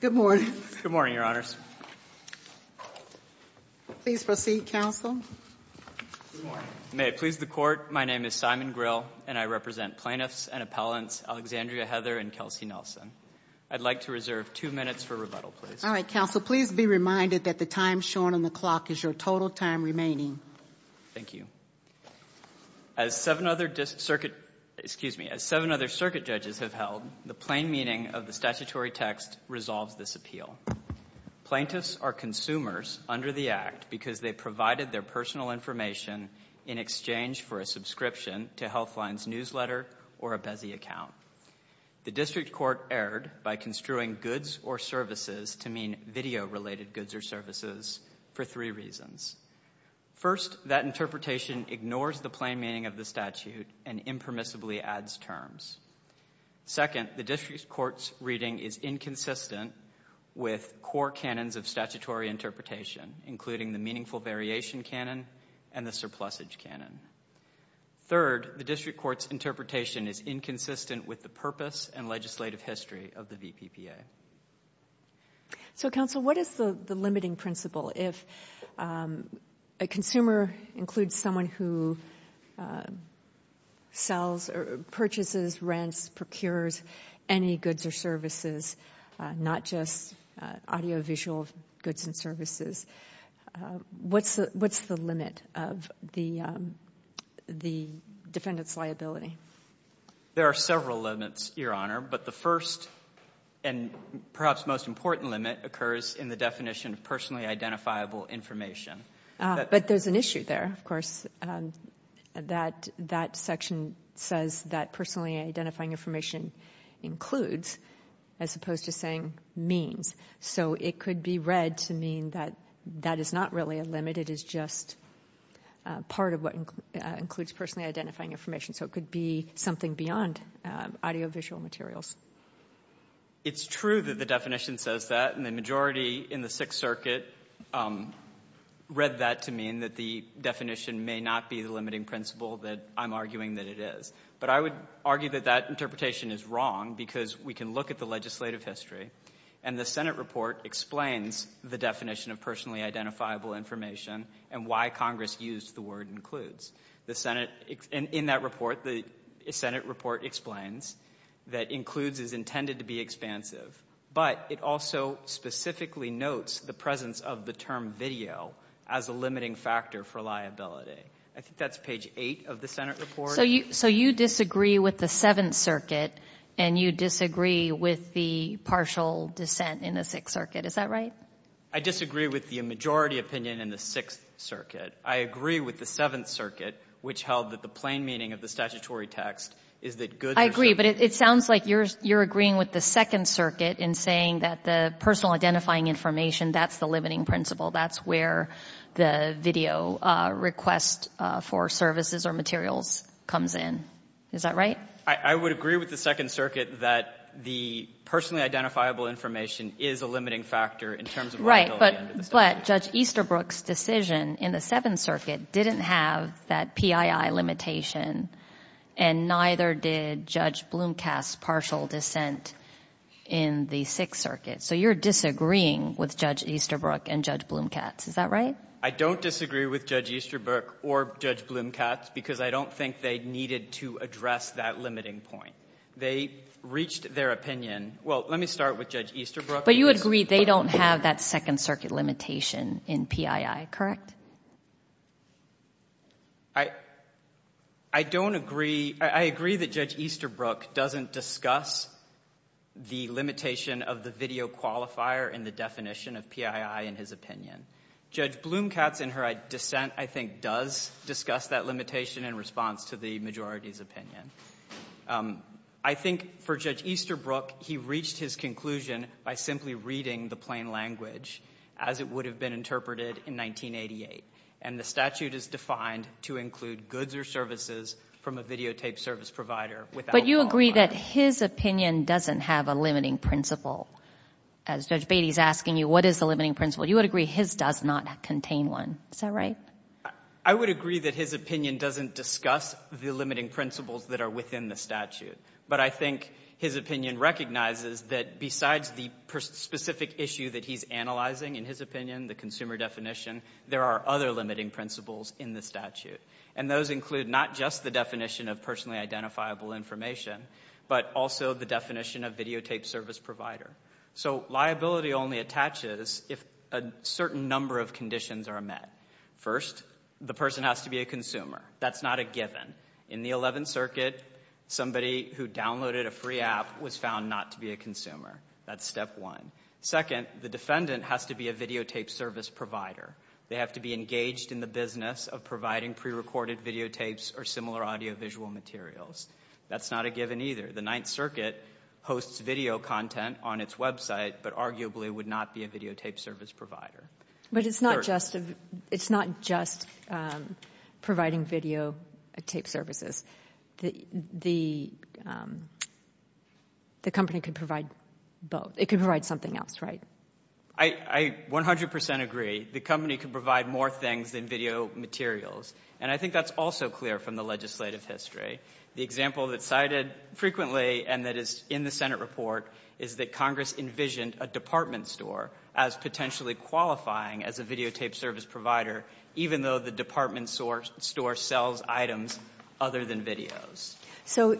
Good morning, Your Honors. Please proceed, Counsel. May it please the Court, my name is Simon Grill, and I represent plaintiffs and appellants Alexandria Heather and Kelsey Nelson. I'd like to reserve two minutes for rebuttal, please. All right, Counsel, please be reminded that the time shown on the clock is your total time remaining. Thank you. As seven other circuit judges have held, the plain meaning of the statutory text resolves this appeal. Plaintiffs are consumers under the Act because they provided their personal information in exchange for a subscription to Healthline's newsletter or a Bezi account. The District Court erred by construing goods or services to mean video-related goods or services for three reasons. First, that interpretation ignores the plain meaning of the statute and impermissibly adds terms. Second, the District Court's reading is inconsistent with core canons of statutory interpretation, including the meaningful variation canon and the surplusage canon. Third, the District Court's interpretation is inconsistent with the purpose and legislative history of the VPPA. So, Counsel, what is the limiting principle? If a consumer includes someone who sells or purchases, rents, procures any goods or services, not just audio-visual goods and services, what's the limit of the defendant's liability? There are several limits, Your Honor. But the first and perhaps most important limit occurs in the definition of personally identifiable information. But there's an issue there, of course. That section says that personally identifying information includes as opposed to saying means. So it could be read to mean that that is not really a limit. It is just part of what includes personally identifying information. So it could be something beyond audio-visual materials. It's true that the definition says that. And the majority in the Sixth Circuit read that to mean that the definition may not be the limiting principle that I'm arguing that it is. But I would argue that that interpretation is wrong because we can look at the legislative history, and the Senate report explains the definition of personally identifiable information and why Congress used the word includes. In that report, the Senate report explains that includes is intended to be expansive. But it also specifically notes the presence of the term video as a limiting factor for liability. I think that's page 8 of the Senate report. So you disagree with the Seventh Circuit, and you disagree with the partial dissent in the Sixth Circuit. Is that right? I disagree with the majority opinion in the Sixth Circuit. I agree with the Seventh Circuit, which held that the plain meaning of the statutory text is that goods are sold. I agree. But it sounds like you're agreeing with the Second Circuit in saying that the personal identifying information, that's the limiting principle. That's where the video request for services or materials comes in. Is that right? I would agree with the Second Circuit that the personally identifiable information is a limiting factor in terms of liability. But Judge Easterbrook's decision in the Seventh Circuit didn't have that PII limitation, and neither did Judge Blomkast's partial dissent in the Sixth Circuit. So you're disagreeing with Judge Easterbrook and Judge Blomkast. Is that right? I don't disagree with Judge Easterbrook or Judge Blomkast because I don't think they needed to address that limiting point. They reached their opinion. Well, let me start with Judge Easterbrook. But you agree they don't have that Second Circuit limitation in PII, correct? I don't agree. I agree that Judge Easterbrook doesn't discuss the limitation of the video qualifier in the definition of PII in his opinion. Judge Blomkast in her dissent, I think, does discuss that limitation in response to the majority's opinion. I think for Judge Easterbrook, he reached his conclusion by simply reading the plain language as it would have been interpreted in 1988. And the statute is defined to include goods or services from a videotaped service provider without qualifier. But you agree that his opinion doesn't have a limiting principle. As Judge Beatty is asking you, what is the limiting principle? You would agree his does not contain one. Is that right? I would agree that his opinion doesn't discuss the limiting principles that are within the statute. But I think his opinion recognizes that besides the specific issue that he's analyzing in his opinion, the consumer definition, there are other limiting principles in the statute. And those include not just the definition of personally identifiable information, but also the definition of videotaped service provider. So liability only attaches if a certain number of conditions are met. First, the person has to be a consumer. That's not a given. In the 11th Circuit, somebody who downloaded a free app was found not to be a That's step one. Second, the defendant has to be a videotaped service provider. They have to be engaged in the business of providing prerecorded videotapes or similar audiovisual materials. That's not a given either. The 9th Circuit hosts video content on its website, but arguably would not be a videotaped service provider. But it's not just providing videotaped services. The company could provide both. It could provide something else, right? I 100% agree. The company could provide more things than video materials. And I think that's also clear from the legislative history. The example that's cited frequently and that is in the Senate report is that Congress envisioned a department store as potentially qualifying as a videotaped service provider, even though the department store sells items other than videos. So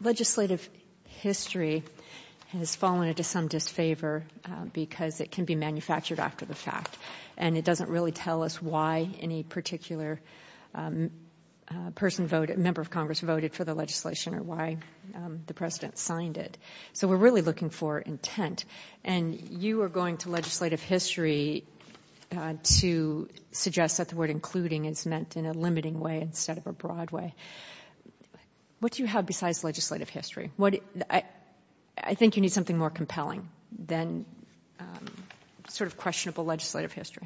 legislative history has fallen into some disfavor because it can be manufactured after the fact. And it doesn't really tell us why any particular member of Congress voted for the legislation or why the President signed it. So we're really looking for intent. And you are going to legislative history to suggest that the word including is meant in a limiting way instead of a broad way. What do you have besides legislative history? I think you need something more compelling than sort of questionable legislative history.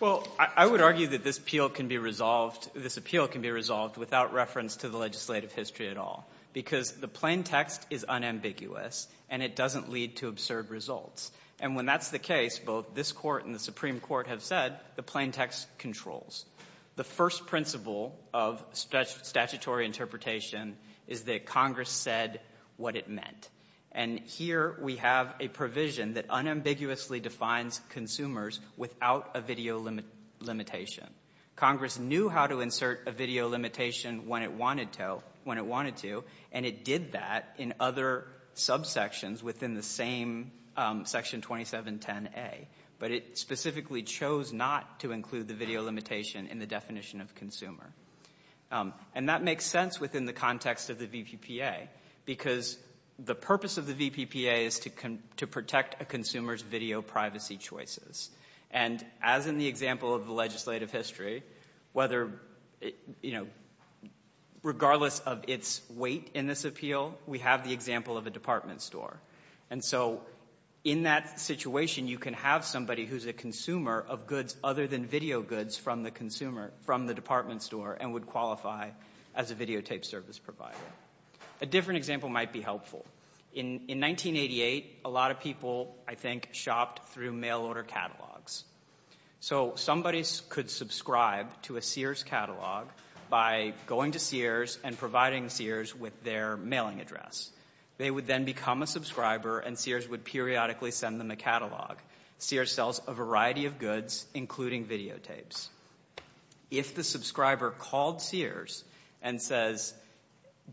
Well, I would argue that this appeal can be resolved without reference to the legislative history at all because the plain text is unambiguous and it doesn't lead to absurd results. And when that's the case, both this Court and the Supreme Court have said the plain text controls. The first principle of statutory interpretation is that Congress said what it meant. And here we have a provision that unambiguously defines consumers without a video limitation. Congress knew how to insert a video limitation when it wanted to, and it did that in other subsections within the same Section 2710A. But it specifically chose not to include the video limitation in the definition of consumer. And that makes sense within the context of the VPPA because the purpose of the VPPA is to protect a consumer's video privacy choices. And as in the example of the legislative history, whether, you know, regardless of its weight in this appeal, we have the example of a department store. And so in that situation, you can have somebody who's a consumer of goods other than video goods from the consumer, from the department store, and would qualify as a videotape service provider. A different example might be helpful. In 1988, a lot of people, I think, shopped through mail order catalogs. So somebody could subscribe to a Sears catalog by going to Sears and providing Sears with their mailing address. They would then become a subscriber, and Sears would periodically send them a catalog. Sears sells a variety of goods, including videotapes. If the subscriber called Sears and says,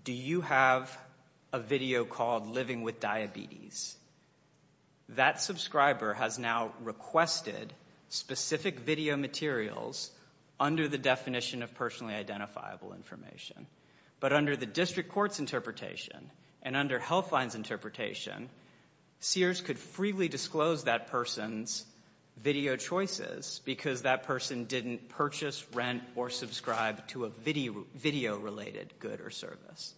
do you have a video called Living with Diabetes, that subscriber has now requested specific video materials under the definition of personally identifiable information. But under the district court's interpretation and under Healthline's interpretation, Sears could freely disclose that person's video choices because that person didn't purchase, rent, or subscribe to a video-related good or service.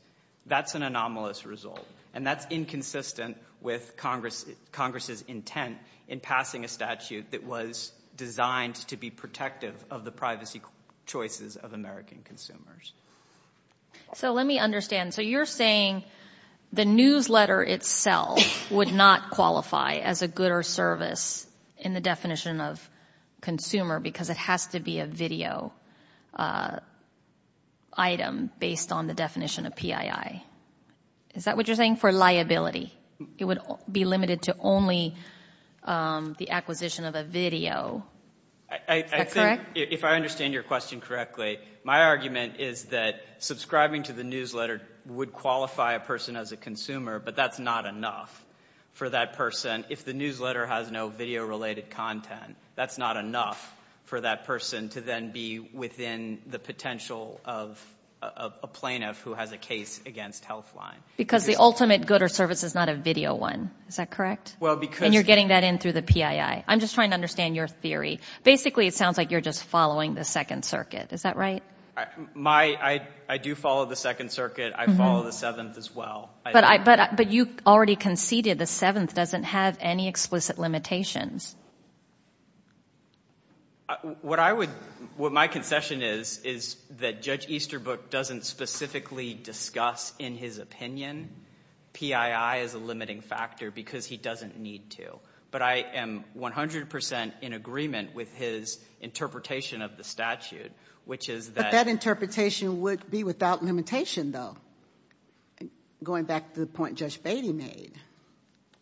That's an anomalous result. And that's inconsistent with Congress's intent in passing a statute that was designed to be protective of the privacy choices of American consumers. So let me understand. So you're saying the newsletter itself would not qualify as a good or service in the definition of consumer because it has to be a video item based on the definition of PII. Is that what you're saying for liability? It would be limited to only the acquisition of a video. Is that correct? If I understand your question correctly, my argument is that subscribing to the newsletter would qualify a person as a consumer, but that's not enough for that person. If the newsletter has no video-related content, that's not enough for that person to then be within the potential of a plaintiff who has a case against Healthline. Because the ultimate good or service is not a video one. Is that correct? And you're getting that in through the PII. I'm just trying to understand your theory. Basically, it sounds like you're just following the Second Circuit. Is that right? I do follow the Second Circuit. I follow the Seventh as well. But you already conceded the Seventh doesn't have any explicit limitations. What my concession is is that Judge Easterbrook doesn't specifically discuss in his opinion PII as a limiting factor because he doesn't need to. But I am 100 percent in agreement with his interpretation of the statute, which is that — But that interpretation would be without limitation, though, going back to the point Judge Beatty made.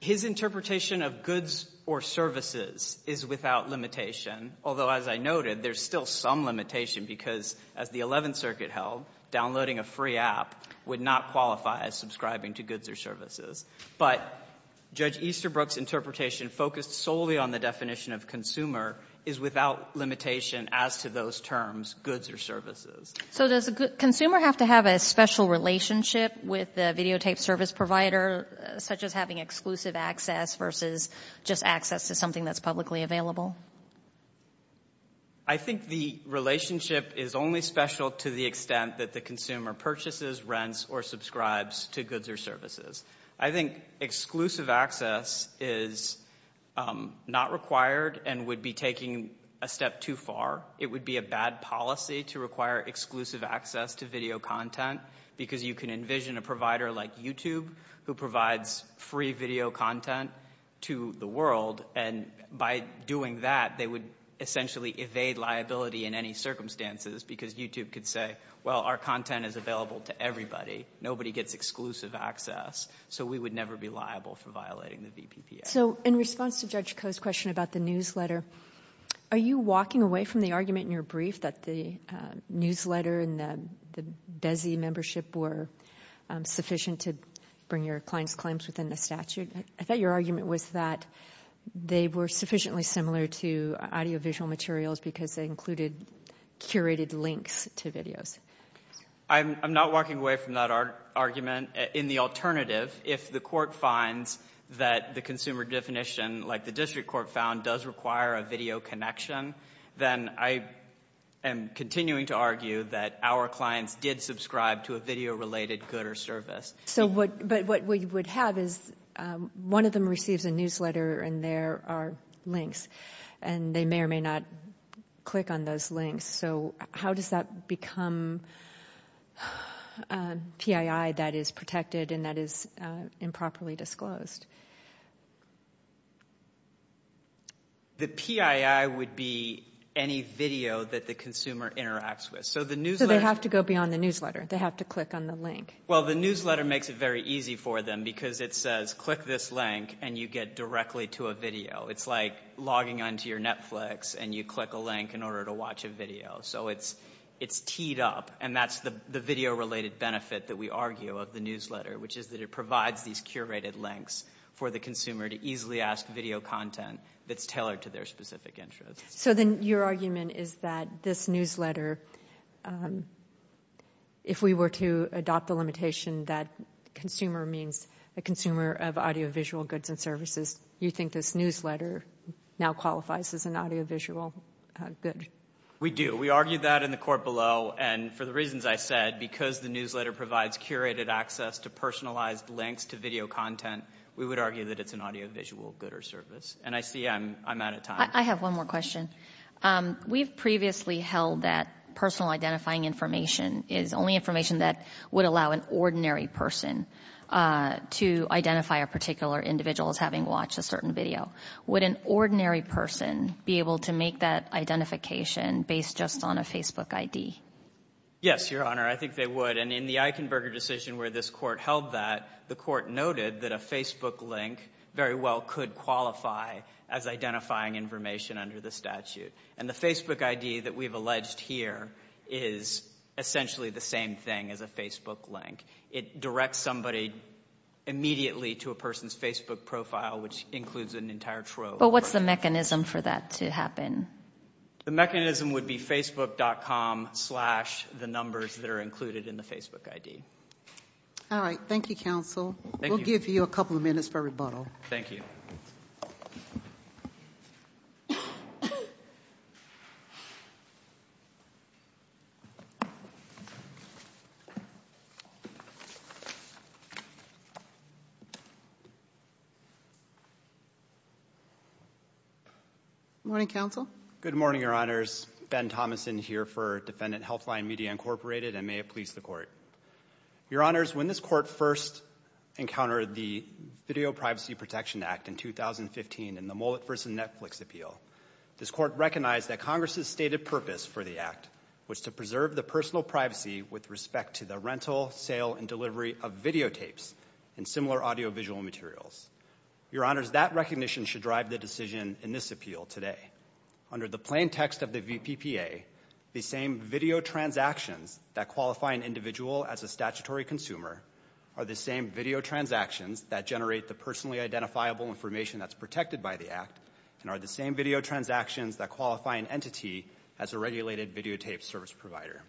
His interpretation of goods or services is without limitation, although, as I noted, there's still some limitation because, as the Eleventh Circuit held, downloading a free app would not qualify as subscribing to goods or services. But Judge Easterbrook's interpretation focused solely on the definition of consumer is without limitation as to those terms, goods or services. So does the consumer have to have a special relationship with the videotaped service provider, such as having exclusive access versus just access to something that's publicly available? I think the relationship is only special to the extent that the consumer purchases, rents, or subscribes to goods or services. I think exclusive access is not required and would be taking a step too far. It would be a bad policy to require exclusive access to video content because you can envision a provider like YouTube who provides free video content to the essentially evade liability in any circumstances because YouTube could say, well, our content is available to everybody. Nobody gets exclusive access. So we would never be liable for violating the VPPA. So in response to Judge Koh's question about the newsletter, are you walking away from the argument in your brief that the newsletter and the DESI membership were sufficient to bring your client's claims within the statute? I thought your argument was that they were sufficiently similar to audiovisual materials because they included curated links to videos. I'm not walking away from that argument. In the alternative, if the court finds that the consumer definition, like the district court found, does require a video connection, then I am continuing to argue that our clients did subscribe to a video-related good or service. But what we would have is one of them receives a newsletter and there are links and they may or may not click on those links. So how does that become PII that is protected and that is improperly disclosed? The PII would be any video that the consumer interacts with. So the newsletter – So they have to go beyond the newsletter. They have to click on the link. Well, the newsletter makes it very easy for them because it says click this link and you get directly to a video. It's like logging onto your Netflix and you click a link in order to watch a video. So it's teed up, and that's the video-related benefit that we argue of the newsletter, which is that it provides these curated links for the consumer to easily ask video content that's tailored to their specific interests. So then your argument is that this newsletter, if we were to adopt the limitation that consumer means a consumer of audiovisual goods and services, you think this newsletter now qualifies as an audiovisual good? We do. We argue that in the court below, and for the reasons I said, because the newsletter provides curated access to personalized links to video content, we would argue that it's an audiovisual good or service. And I see I'm out of time. I have one more question. We've previously held that personal identifying information is only information that would allow an ordinary person to identify a particular individual as having watched a certain video. Would an ordinary person be able to make that identification based just on a Facebook ID? Yes, Your Honor, I think they would. And in the Eichenberger decision where this court held that, the court noted that a Facebook link very well could qualify as identifying information under the statute. And the Facebook ID that we've alleged here is essentially the same thing as a Facebook link. It directs somebody immediately to a person's Facebook profile, which includes an entire trove. But what's the mechanism for that to happen? The mechanism would be facebook.com slash the numbers that are included in the Facebook ID. All right. Thank you, Counsel. We'll give you a couple of minutes for rebuttal. Thank you. Good morning, Counsel. Good morning, Your Honors. Ben Thomason here for Defendant Healthline Media, Inc. and may it please the Court. Your Honors, when this Court first encountered the Video Privacy Protection Act in 2015 in the Mullet v. Netflix appeal, this Court recognized that Congress's stated purpose for the act was to preserve the personal privacy with respect to the rental, sale, and delivery of videotapes and similar audiovisual materials. Your Honors, that recognition should drive the decision in this appeal today. Under the plain text of the VPPA, the same video transactions that qualify an individual as a statutory consumer are the same video transactions that generate the personally identifiable information that's protected by the act and are the same video transactions that qualify an entity as a regulated videotape service provider.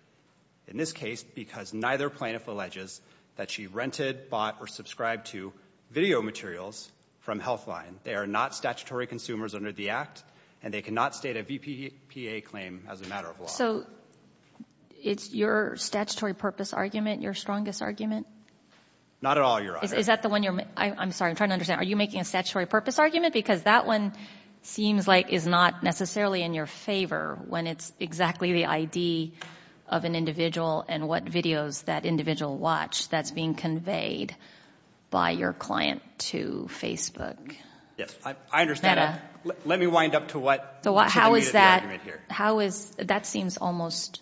In this case, because neither plaintiff alleges that she rented, bought, or subscribed to video materials from Healthline, they are not statutory consumers under the act and they cannot state a VPPA claim as a matter of law. So it's your statutory purpose argument, your strongest argument? Not at all, Your Honor. Is that the one you're making? I'm sorry, I'm trying to understand. Are you making a statutory purpose argument? Because that one seems like it's not necessarily in your favor when it's exactly the ID of an individual and what videos that individual watched that's being conveyed by your client to Facebook. Yes, I understand. Let me wind up to what should be the argument here. That seems almost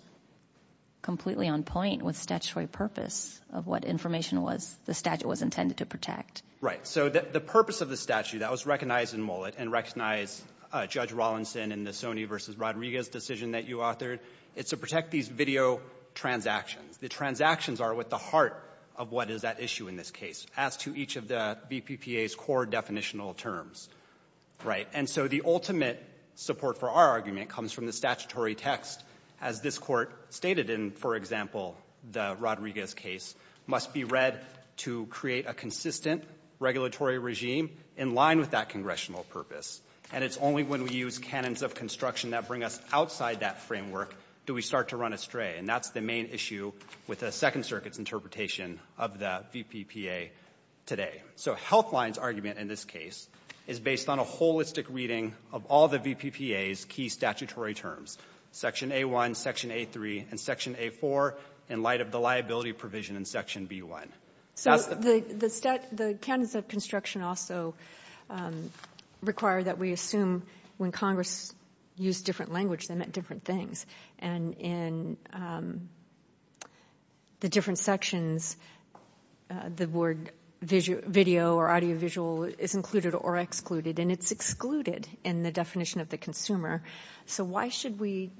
completely on point with statutory purpose of what information the statute was intended to protect. Right, so the purpose of the statute that was recognized in Mullet and recognized Judge Rollinson in the Sonny v. Rodriguez decision that you authored, it's to protect these video transactions. The transactions are at the heart of what is at issue in this case, as to each of the VPPA's core definitional terms. Right? And so the ultimate support for our argument comes from the statutory text, as this Court stated in, for example, the Rodriguez case, must be read to create a consistent regulatory regime in line with that congressional purpose. And it's only when we use canons of construction that bring us outside that framework do we start to run astray. And that's the main issue with the Second Circuit's interpretation of the VPPA today. So Healthline's argument in this case is based on a holistic reading of all the VPPA's key statutory terms, Section A-1, Section A-3, and Section A-4, in light of the liability provision in Section B-1. So the canons of construction also require that we assume when Congress used different language, they meant different things. And in the different sections, the word video or audiovisual is included or excluded, and it's excluded in the definition of the consumer. So why should we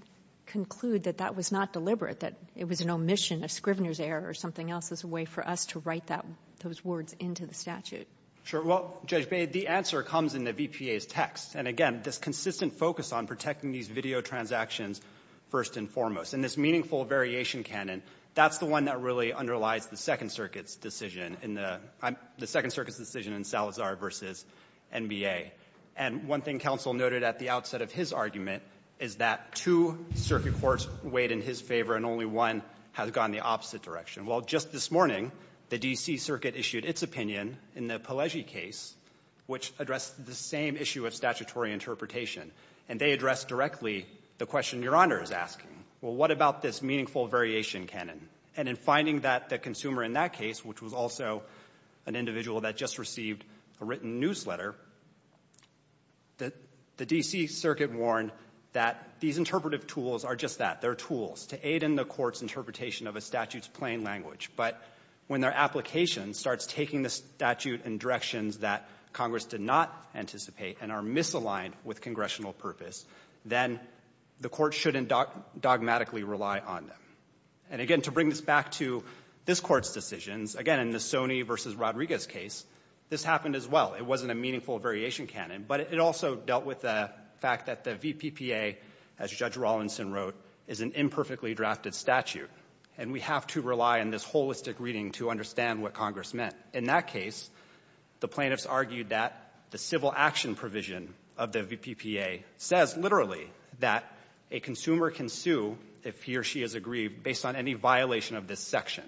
conclude that that was not deliberate, that it was an omission, a Scrivener's error, or something else as a way for us to write those words into the statute? Sure. Well, Judge Bate, the answer comes in the VPA's text. And again, this consistent focus on protecting these video transactions first and foremost, and this meaningful variation canon, that's the one that really underlies the Second Circuit's decision in the — the Second Circuit's decision in Salazar v. NBA. And one thing counsel noted at the outset of his argument is that two circuit courts weighed in his favor and only one has gone the opposite direction. Well, just this morning, the D.C. Circuit issued its opinion in the Pelleggi case, which addressed the same issue of statutory interpretation. And they addressed directly the question Your Honor is asking. Well, what about this meaningful variation canon? And in finding that the consumer in that case, which was also an individual that just received a written newsletter, the D.C. Circuit warned that these interpretive tools are just that, they're tools to aid in the court's interpretation of a statute's plain language. But when their application starts taking the statute in directions that Congress did not anticipate and are misaligned with congressional purpose, then the court shouldn't dogmatically rely on them. And again, to bring this back to this Court's decisions, again, in the Sony v. Rodriguez case, this happened as well. It wasn't a meaningful variation canon, but it also dealt with the fact that the VPPA, as Judge Rawlinson wrote, is an imperfectly drafted statute. And we have to rely on this holistic reading to understand what Congress meant. In that case, the plaintiffs argued that the civil action provision of the VPPA says literally that a consumer can sue if he or she is aggrieved based on any violation of this section.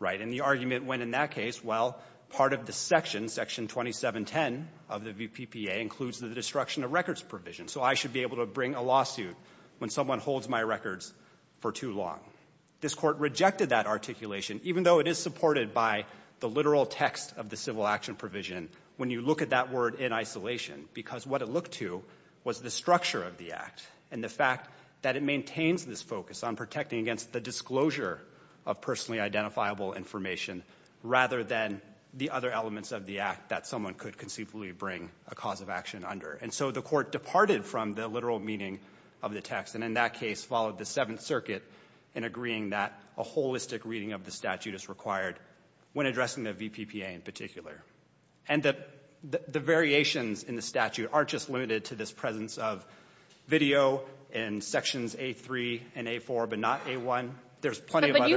Right? And the argument went in that case, well, part of the section, Section 2710 of the VPPA, includes the destruction of records provision. So I should be able to bring a lawsuit when someone holds my records for too long. This court rejected that articulation, even though it is supported by the literal text of the civil action provision when you look at that word in isolation, because what it looked to was the structure of the act and the fact that it maintains this focus on protecting against the disclosure of personally identifiable information rather than the other elements of the act that someone could conceivably bring a cause of action under. And so the court departed from the literal meaning of the text, and in that case followed the Seventh Circuit in agreeing that a holistic reading of the statute is required when addressing the VPPA in particular. And the variations in the statute aren't just limited to this presence of video in Sections A3 and A4, but not A1. There's plenty of other ----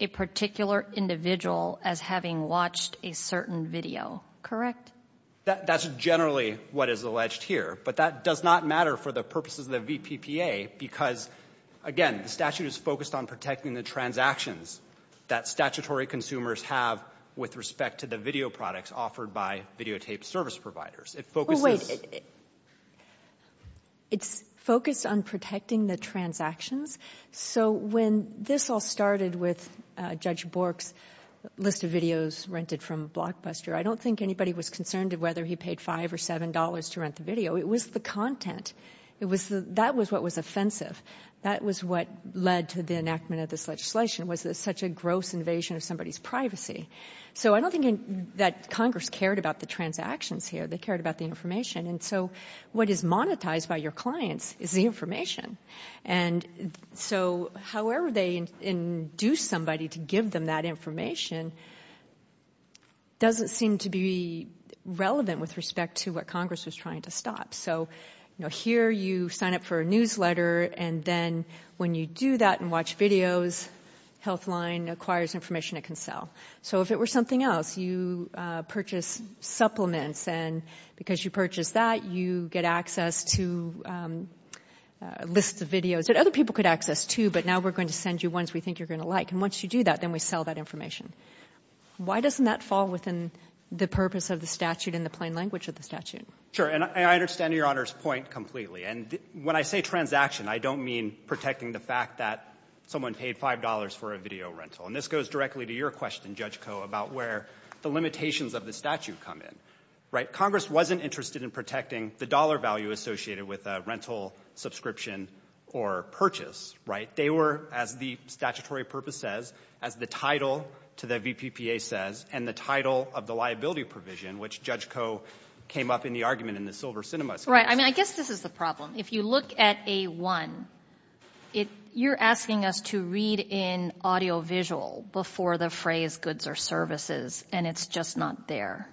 a particular individual as having watched a certain video, correct? That's generally what is alleged here, but that does not matter for the purposes of the VPPA, because, again, the statute is focused on protecting the transactions that statutory consumers have with respect to the video products offered by videotaped service providers. It focuses ---- Kagan, it's focused on protecting the transactions. So when this all started with Judge Bork's list of videos rented from Blockbuster, I don't think anybody was concerned of whether he paid $5 or $7 to rent the video. It was the content. It was the ---- that was what was offensive. That was what led to the enactment of this legislation was such a gross invasion of somebody's privacy. So I don't think that Congress cared about the transactions here. They cared about the information. And so what is monetized by your clients is the information. And so however they induce somebody to give them that information doesn't seem to be relevant with respect to what Congress was trying to stop. So here you sign up for a newsletter, and then when you do that and watch videos, Healthline acquires information it can sell. So if it were something else, you purchase supplements, and because you purchase that, you get access to lists of videos that other people could access, too, but now we're going to send you ones we think you're going to like. And once you do that, then we sell that information. Why doesn't that fall within the purpose of the statute in the plain language of the statute? Sure. And I understand Your Honor's point completely. And when I say transaction, I don't mean protecting the fact that someone paid $5 for a video rental. And this goes directly to your question, Judge Koh, about where the limitations of the statute come in. Right? So Congress wasn't interested in protecting the dollar value associated with a rental subscription or purchase, right? They were, as the statutory purpose says, as the title to the VPPA says, and the title of the liability provision, which Judge Koh came up in the argument in the Silver Cinema case. Right. I mean, I guess this is the problem. If you look at A1, you're asking us to read in audiovisual before the phrase goods or services, and it's just not there.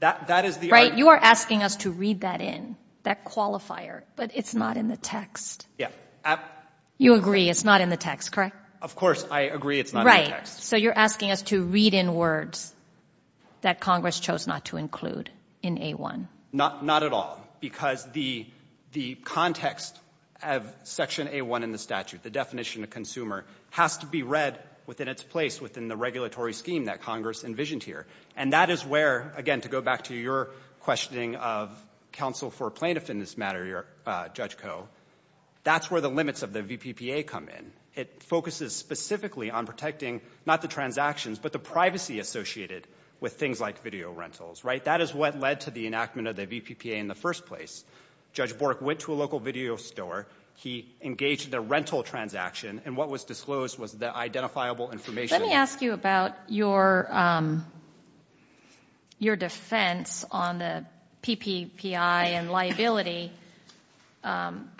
That is the argument. Right? You are asking us to read that in, that qualifier, but it's not in the text. Yeah. You agree it's not in the text, correct? Of course I agree it's not in the text. Right. So you're asking us to read in words that Congress chose not to include in A1. Not at all. Because the context of Section A1 in the statute, the definition of consumer, has to be read within its place, within the regulatory scheme that Congress envisioned here. And that is where, again, to go back to your questioning of counsel for plaintiff in this matter, Judge Koh, that's where the limits of the VPPA come in. It focuses specifically on protecting, not the transactions, but the privacy associated with things like video rentals. Right? That is what led to the enactment of the VPPA in the first place. Judge Bork went to a local video store. He engaged the rental transaction, and what was disclosed was the identifiable information. Let me ask you about your defense on the PPPI and liability.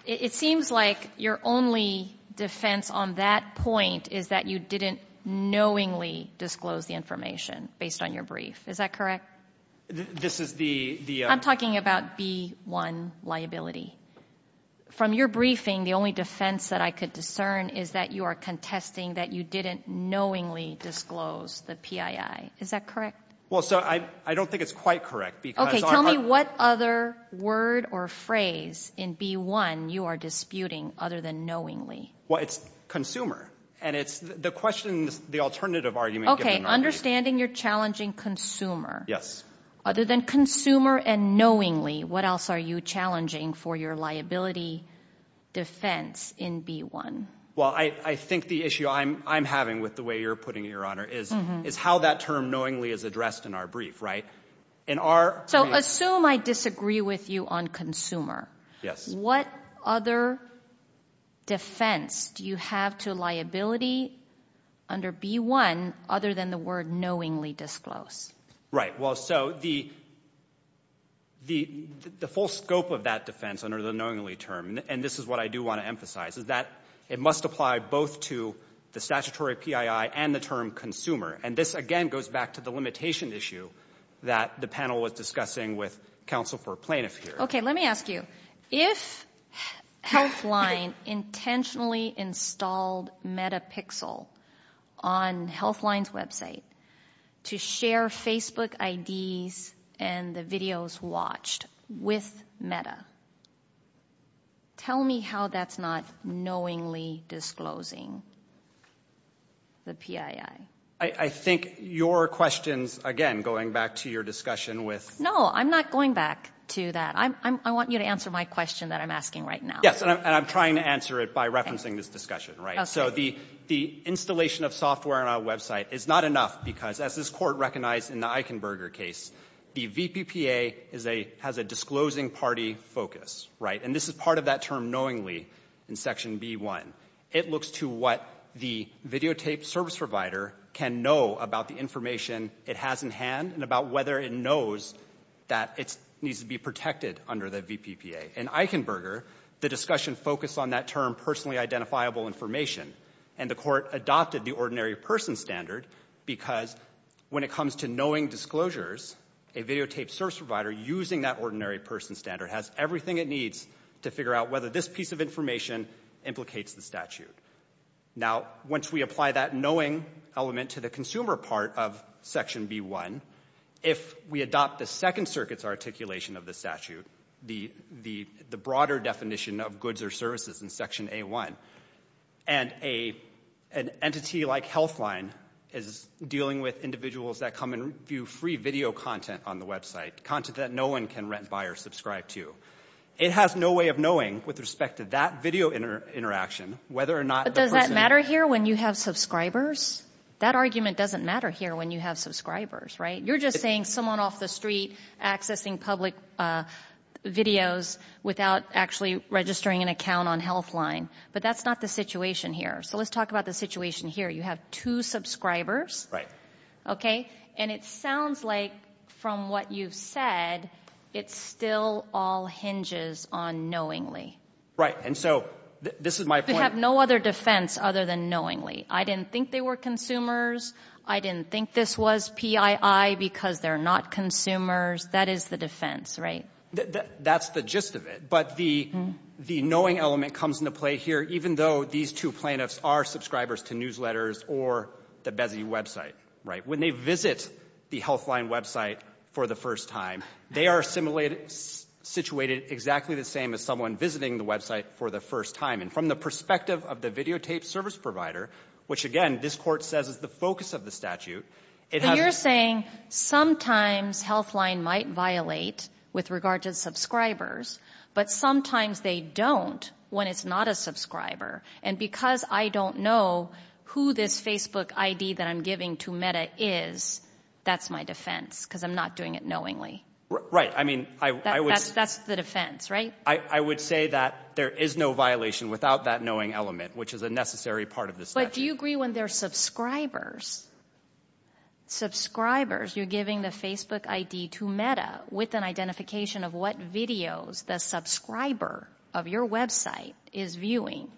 It seems like your only defense on that point is that you didn't knowingly disclose the information based on your brief. Is that correct? This is the... I'm talking about B1 liability. From your briefing, the only defense that I could discern is that you are contesting that you didn't knowingly disclose the PPPI. Is that correct? Well, so I don't think it's quite correct because... Tell me what other word or phrase in B1 you are disputing other than knowingly. Well, it's consumer. And it's the question, the alternative argument... Okay. Understanding you're challenging consumer. Yes. Other than consumer and knowingly, what else are you challenging for your liability defense in B1? Well, I think the issue I'm having with the way you're putting it, Your Honor, is how that term knowingly is addressed in our brief, right? So assume I disagree with you on consumer. Yes. What other defense do you have to liability under B1 other than the word knowingly disclose? Right. Well, so the full scope of that defense under the knowingly term, and this is what I do want to emphasize, is that it must apply both to the statutory PII and the term consumer. And this, again, goes back to the limitation issue that the panel was discussing with counsel for plaintiff here. Okay. Let me ask you. If Healthline intentionally installed Metapixel on Healthline's website to share Facebook IDs and the videos watched with Meta, tell me how that's not knowingly disclosing the PII? I think your questions, again, going back to your discussion with... No, I'm not going back to that. I want you to answer my question that I'm asking right now. Yes, and I'm trying to answer it by referencing this discussion, right? Okay. So the installation of software on our website is not enough because, as this Court recognized in the Eichenberger case, the VPPA is a — has a disclosing party focus, right? And this is part of that term knowingly in Section B1. It looks to what the videotaped service provider can know about the information it has in hand and about whether it knows that it needs to be protected under the VPPA. In Eichenberger, the discussion focused on that term personally identifiable information, and the Court adopted the ordinary person standard because when it comes to knowing disclosures, a videotaped service provider using that ordinary person standard has everything it needs to figure out whether this piece of information implicates the statute. Now, once we apply that knowing element to the consumer part of Section B1, if we adopt the Second Circuit's articulation of the statute, the broader definition of goods or services in Section A1, and an entity like Healthline is dealing with individuals that come and view free video content on the website, content that no one can rent, buy, or subscribe to, it has no way of knowing with respect to that video interaction whether or not the person — But does that matter here when you have subscribers? That argument doesn't matter here when you have subscribers, right? You're just saying someone off the street accessing public videos without actually registering an account on Healthline. But that's not the situation here. So let's talk about the situation here. You have two subscribers. Right. Okay? And it sounds like from what you've said, it still all hinges on knowingly. Right. And so this is my point — They have no other defense other than knowingly. I didn't think they were consumers. I didn't think this was PII because they're not consumers. That is the defense, right? That's the gist of it. But the knowing element comes into play here even though these two plaintiffs are subscribers to newsletters or the Bezzy website, right? When they visit the Healthline website for the first time, they are situated exactly the same as someone visiting the website for the first time. And from the perspective of the videotaped service provider, which again this court says is the focus of the statute — So you're saying sometimes Healthline might violate with regard to subscribers, but sometimes they don't when it's not a subscriber. And because I don't know who this Facebook ID that I'm giving to Meta is, that's my defense because I'm not doing it knowingly. Right. I mean — That's the defense, right? I would say that there is no violation without that knowing element, which is a necessary part of the statute. But do you agree when they're subscribers, subscribers you're giving the Facebook ID to Meta with an identification of what videos the subscriber of your website is viewing?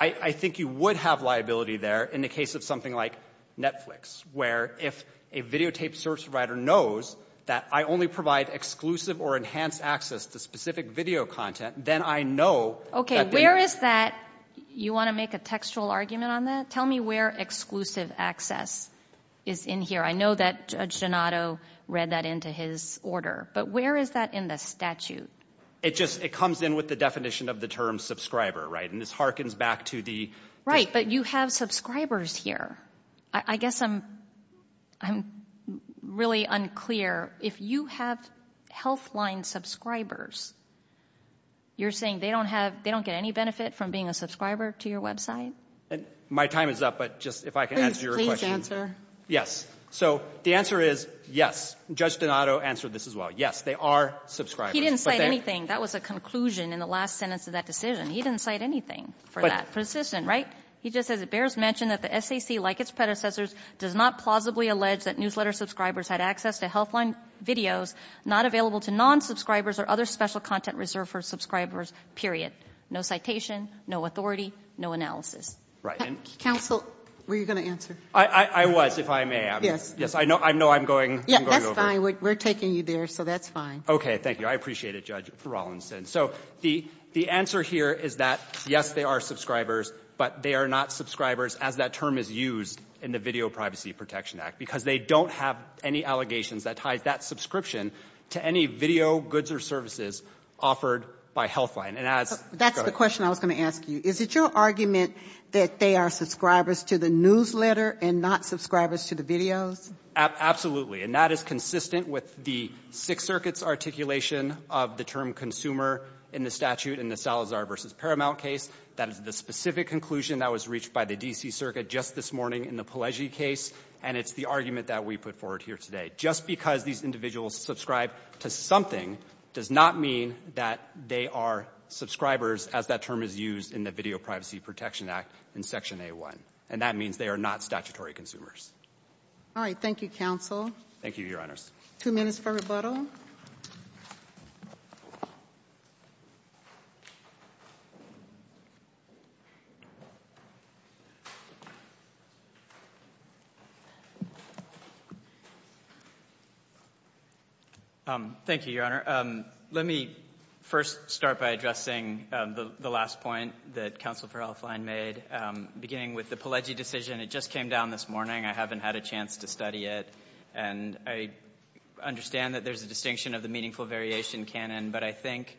I think you would have liability there in the case of something like Netflix, where if a videotaped service provider knows that I only provide exclusive or enhanced access to specific video content, then I know — Okay. Where is that — You want to make a textual argument on that? Tell me where exclusive access is in here. I know that Judge Donato read that into his order. But where is that in the statute? It just — It comes in with the definition of the term subscriber, right? And this hearkens back to the — Right. But you have subscribers here. I guess I'm really unclear. If you have Healthline subscribers, you're saying they don't have — they don't get any benefit from being a subscriber to your website? My time is up, but just if I can answer your question. Please answer. Yes. So the answer is yes. Judge Donato answered this as well. Yes, they are subscribers. He didn't cite anything. That was a conclusion in the last sentence of that decision. He didn't cite anything for that. But — Persistent, right? He just says it bears mention that the SAC, like its predecessors, does not plausibly allege that newsletter subscribers had access to Healthline videos not available to non-subscribers or other special content reserved for subscribers, period. No citation. No authority. No analysis. Right. Counsel, were you going to answer? I was, if I may. Yes. Yes, I know I'm going over — Yes, that's fine. We're taking you there, so that's fine. Okay. Thank you. I appreciate it, Judge Rawlinson. So the answer here is that, yes, they are subscribers, but they are not subscribers as that term is used in the Video Privacy Protection Act because they don't have any allegations that tie that subscription to any video goods or services offered by Healthline. And as — That's the question I was going to ask you. Is it your argument that they are subscribers to the newsletter and not subscribers to the videos? Absolutely. And that is consistent with the Sixth Circuit's articulation of the term consumer in the statute in the Salazar v. Paramount case. That is the specific conclusion that was reached by the D.C. Circuit just this morning in the Pelleggi case. And it's the argument that we put forward here today. Just because these individuals subscribe to something does not mean that they are subscribers as that term is used in the Video Privacy Protection Act in Section A1. And that means they are not statutory consumers. All right. Thank you, counsel. Thank you, Your Honors. Two minutes for rebuttal. Thank you, Your Honor. Let me first start by addressing the last point that counsel for Healthline made. Beginning with the Pelleggi decision, it just came down this morning. I haven't had a chance to study it. And I understand that there's a distinction of the meaningful variation canon. But I think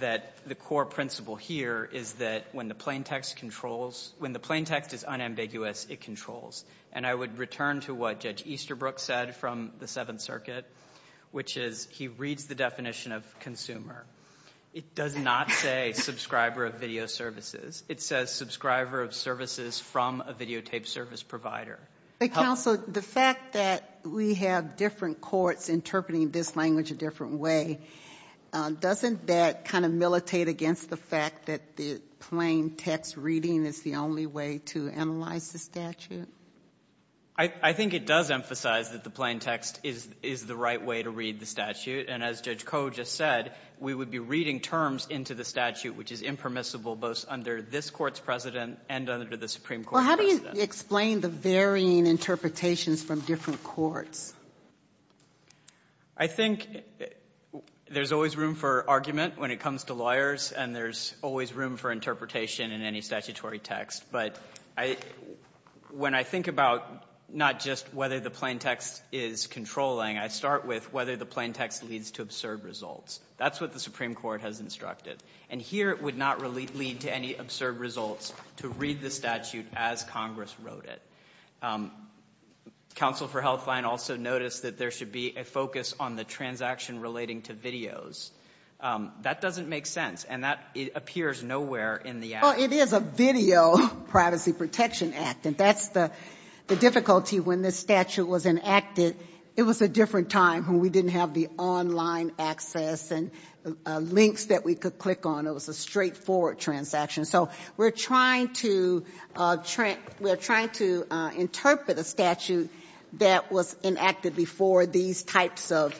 that the core principle here is that when the plaintext controls — when the plaintext is unambiguous, it controls. And I would return to what Judge Easterbrook said from the Seventh Circuit, which is he reads the definition of consumer. It does not say subscriber of video services. It says subscriber of services from a videotape service provider. But, counsel, the fact that we have different courts interpreting this language a different way, doesn't that kind of militate against the fact that the plaintext reading is the only way to analyze the statute? I think it does emphasize that the plaintext is the right way to read the statute. And as Judge Koh just said, we would be reading terms into the statute, which is impermissible both under this court's president and under the Supreme Court's president. Well, how do you explain the varying interpretations from different courts? I think there's always room for argument when it comes to lawyers. And there's always room for interpretation in any statutory text. But when I think about not just whether the plaintext is controlling, I start with whether the plaintext leads to absurd results. That's what the Supreme Court has instructed. And here it would not lead to any absurd results to read the statute as Congress wrote it. Counsel for Healthline also noticed that there should be a focus on the transaction relating to videos. That doesn't make sense. And that appears nowhere in the act. Well, it is a video Privacy Protection Act. And that's the difficulty. When this statute was enacted, it was a different time when we didn't have the online access and links that we could click on. It was a straightforward transaction. So we're trying to interpret a statute that was enacted before these types of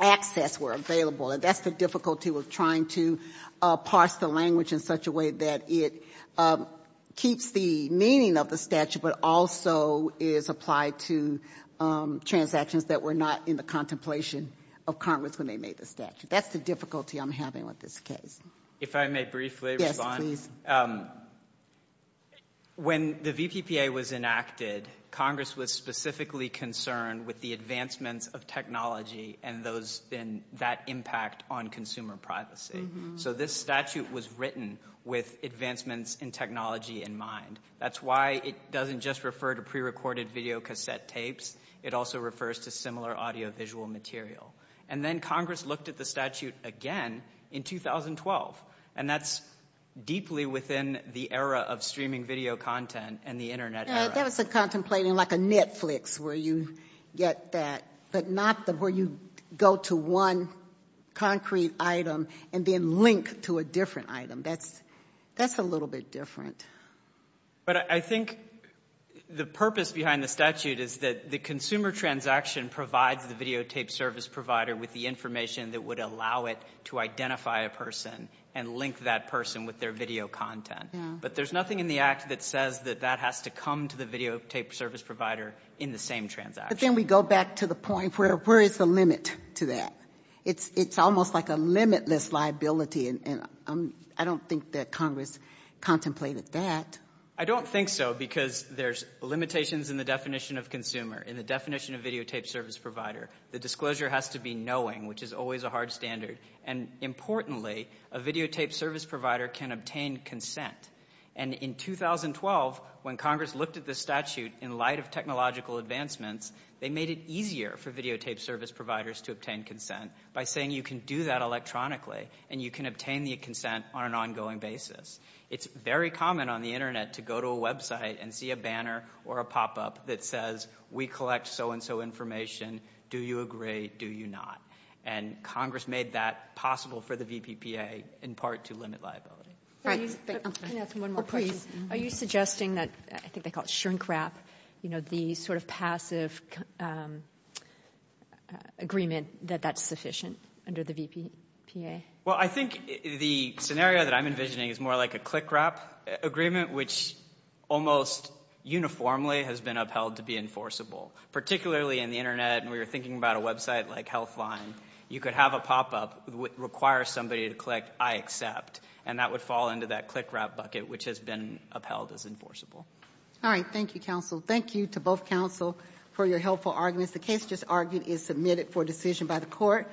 access were available. And that's the difficulty with trying to parse the language in such a way that it keeps the meaning of the statute but also is applied to transactions that were not in the contemplation of Congress when they made the statute. That's the difficulty I'm having with this case. If I may briefly respond? Yes, please. When the VPPA was enacted, Congress was specifically concerned with the advancements of technology and that impact on consumer privacy. So this statute was written with advancements in technology in mind. That's why it doesn't just refer to prerecorded videocassette tapes. It also refers to similar audiovisual material. And then Congress looked at the statute again in 2012. And that's deeply within the era of streaming video content and the Internet era. That was contemplating like a Netflix where you get that, but not where you go to one concrete item and then link to a different item. That's a little bit different. But I think the purpose behind the statute is that the consumer transaction provides the videotape service provider with the information that would allow it to identify a person and link that person with their video content. But there's nothing in the act that says that that has to come to the videotape service provider in the same transaction. But then we go back to the point where where is the limit to that? It's almost like a limitless liability. And I don't think that Congress contemplated that. I don't think so, because there's limitations in the definition of consumer, in the definition of videotape service provider. The disclosure has to be knowing, which is always a hard standard. And importantly, a videotape service provider can obtain consent. And in 2012, when Congress looked at the statute in light of technological advancements, they made it easier for videotape service providers to obtain consent by saying you can do that electronically and you can obtain the consent on an ongoing basis. It's very common on the Internet to go to a website and see a banner or a pop-up that says, we collect so-and-so information. Do you agree? Do you not? And Congress made that possible for the VPPA in part to limit liability. Can I ask one more question? Are you suggesting that, I think they call it shrink-wrap, you know, the sort of passive agreement that that's sufficient under the VPPA? Well, I think the scenario that I'm envisioning is more like a click-wrap agreement, which almost uniformly has been upheld to be enforceable, particularly in the Internet. And we were thinking about a website like Healthline. You could have a pop-up that requires somebody to click I accept, and that would fall into that click-wrap bucket, which has been upheld as enforceable. All right, thank you, counsel. Thank you to both counsel for your helpful arguments. The case just argued is submitted for decision by the court.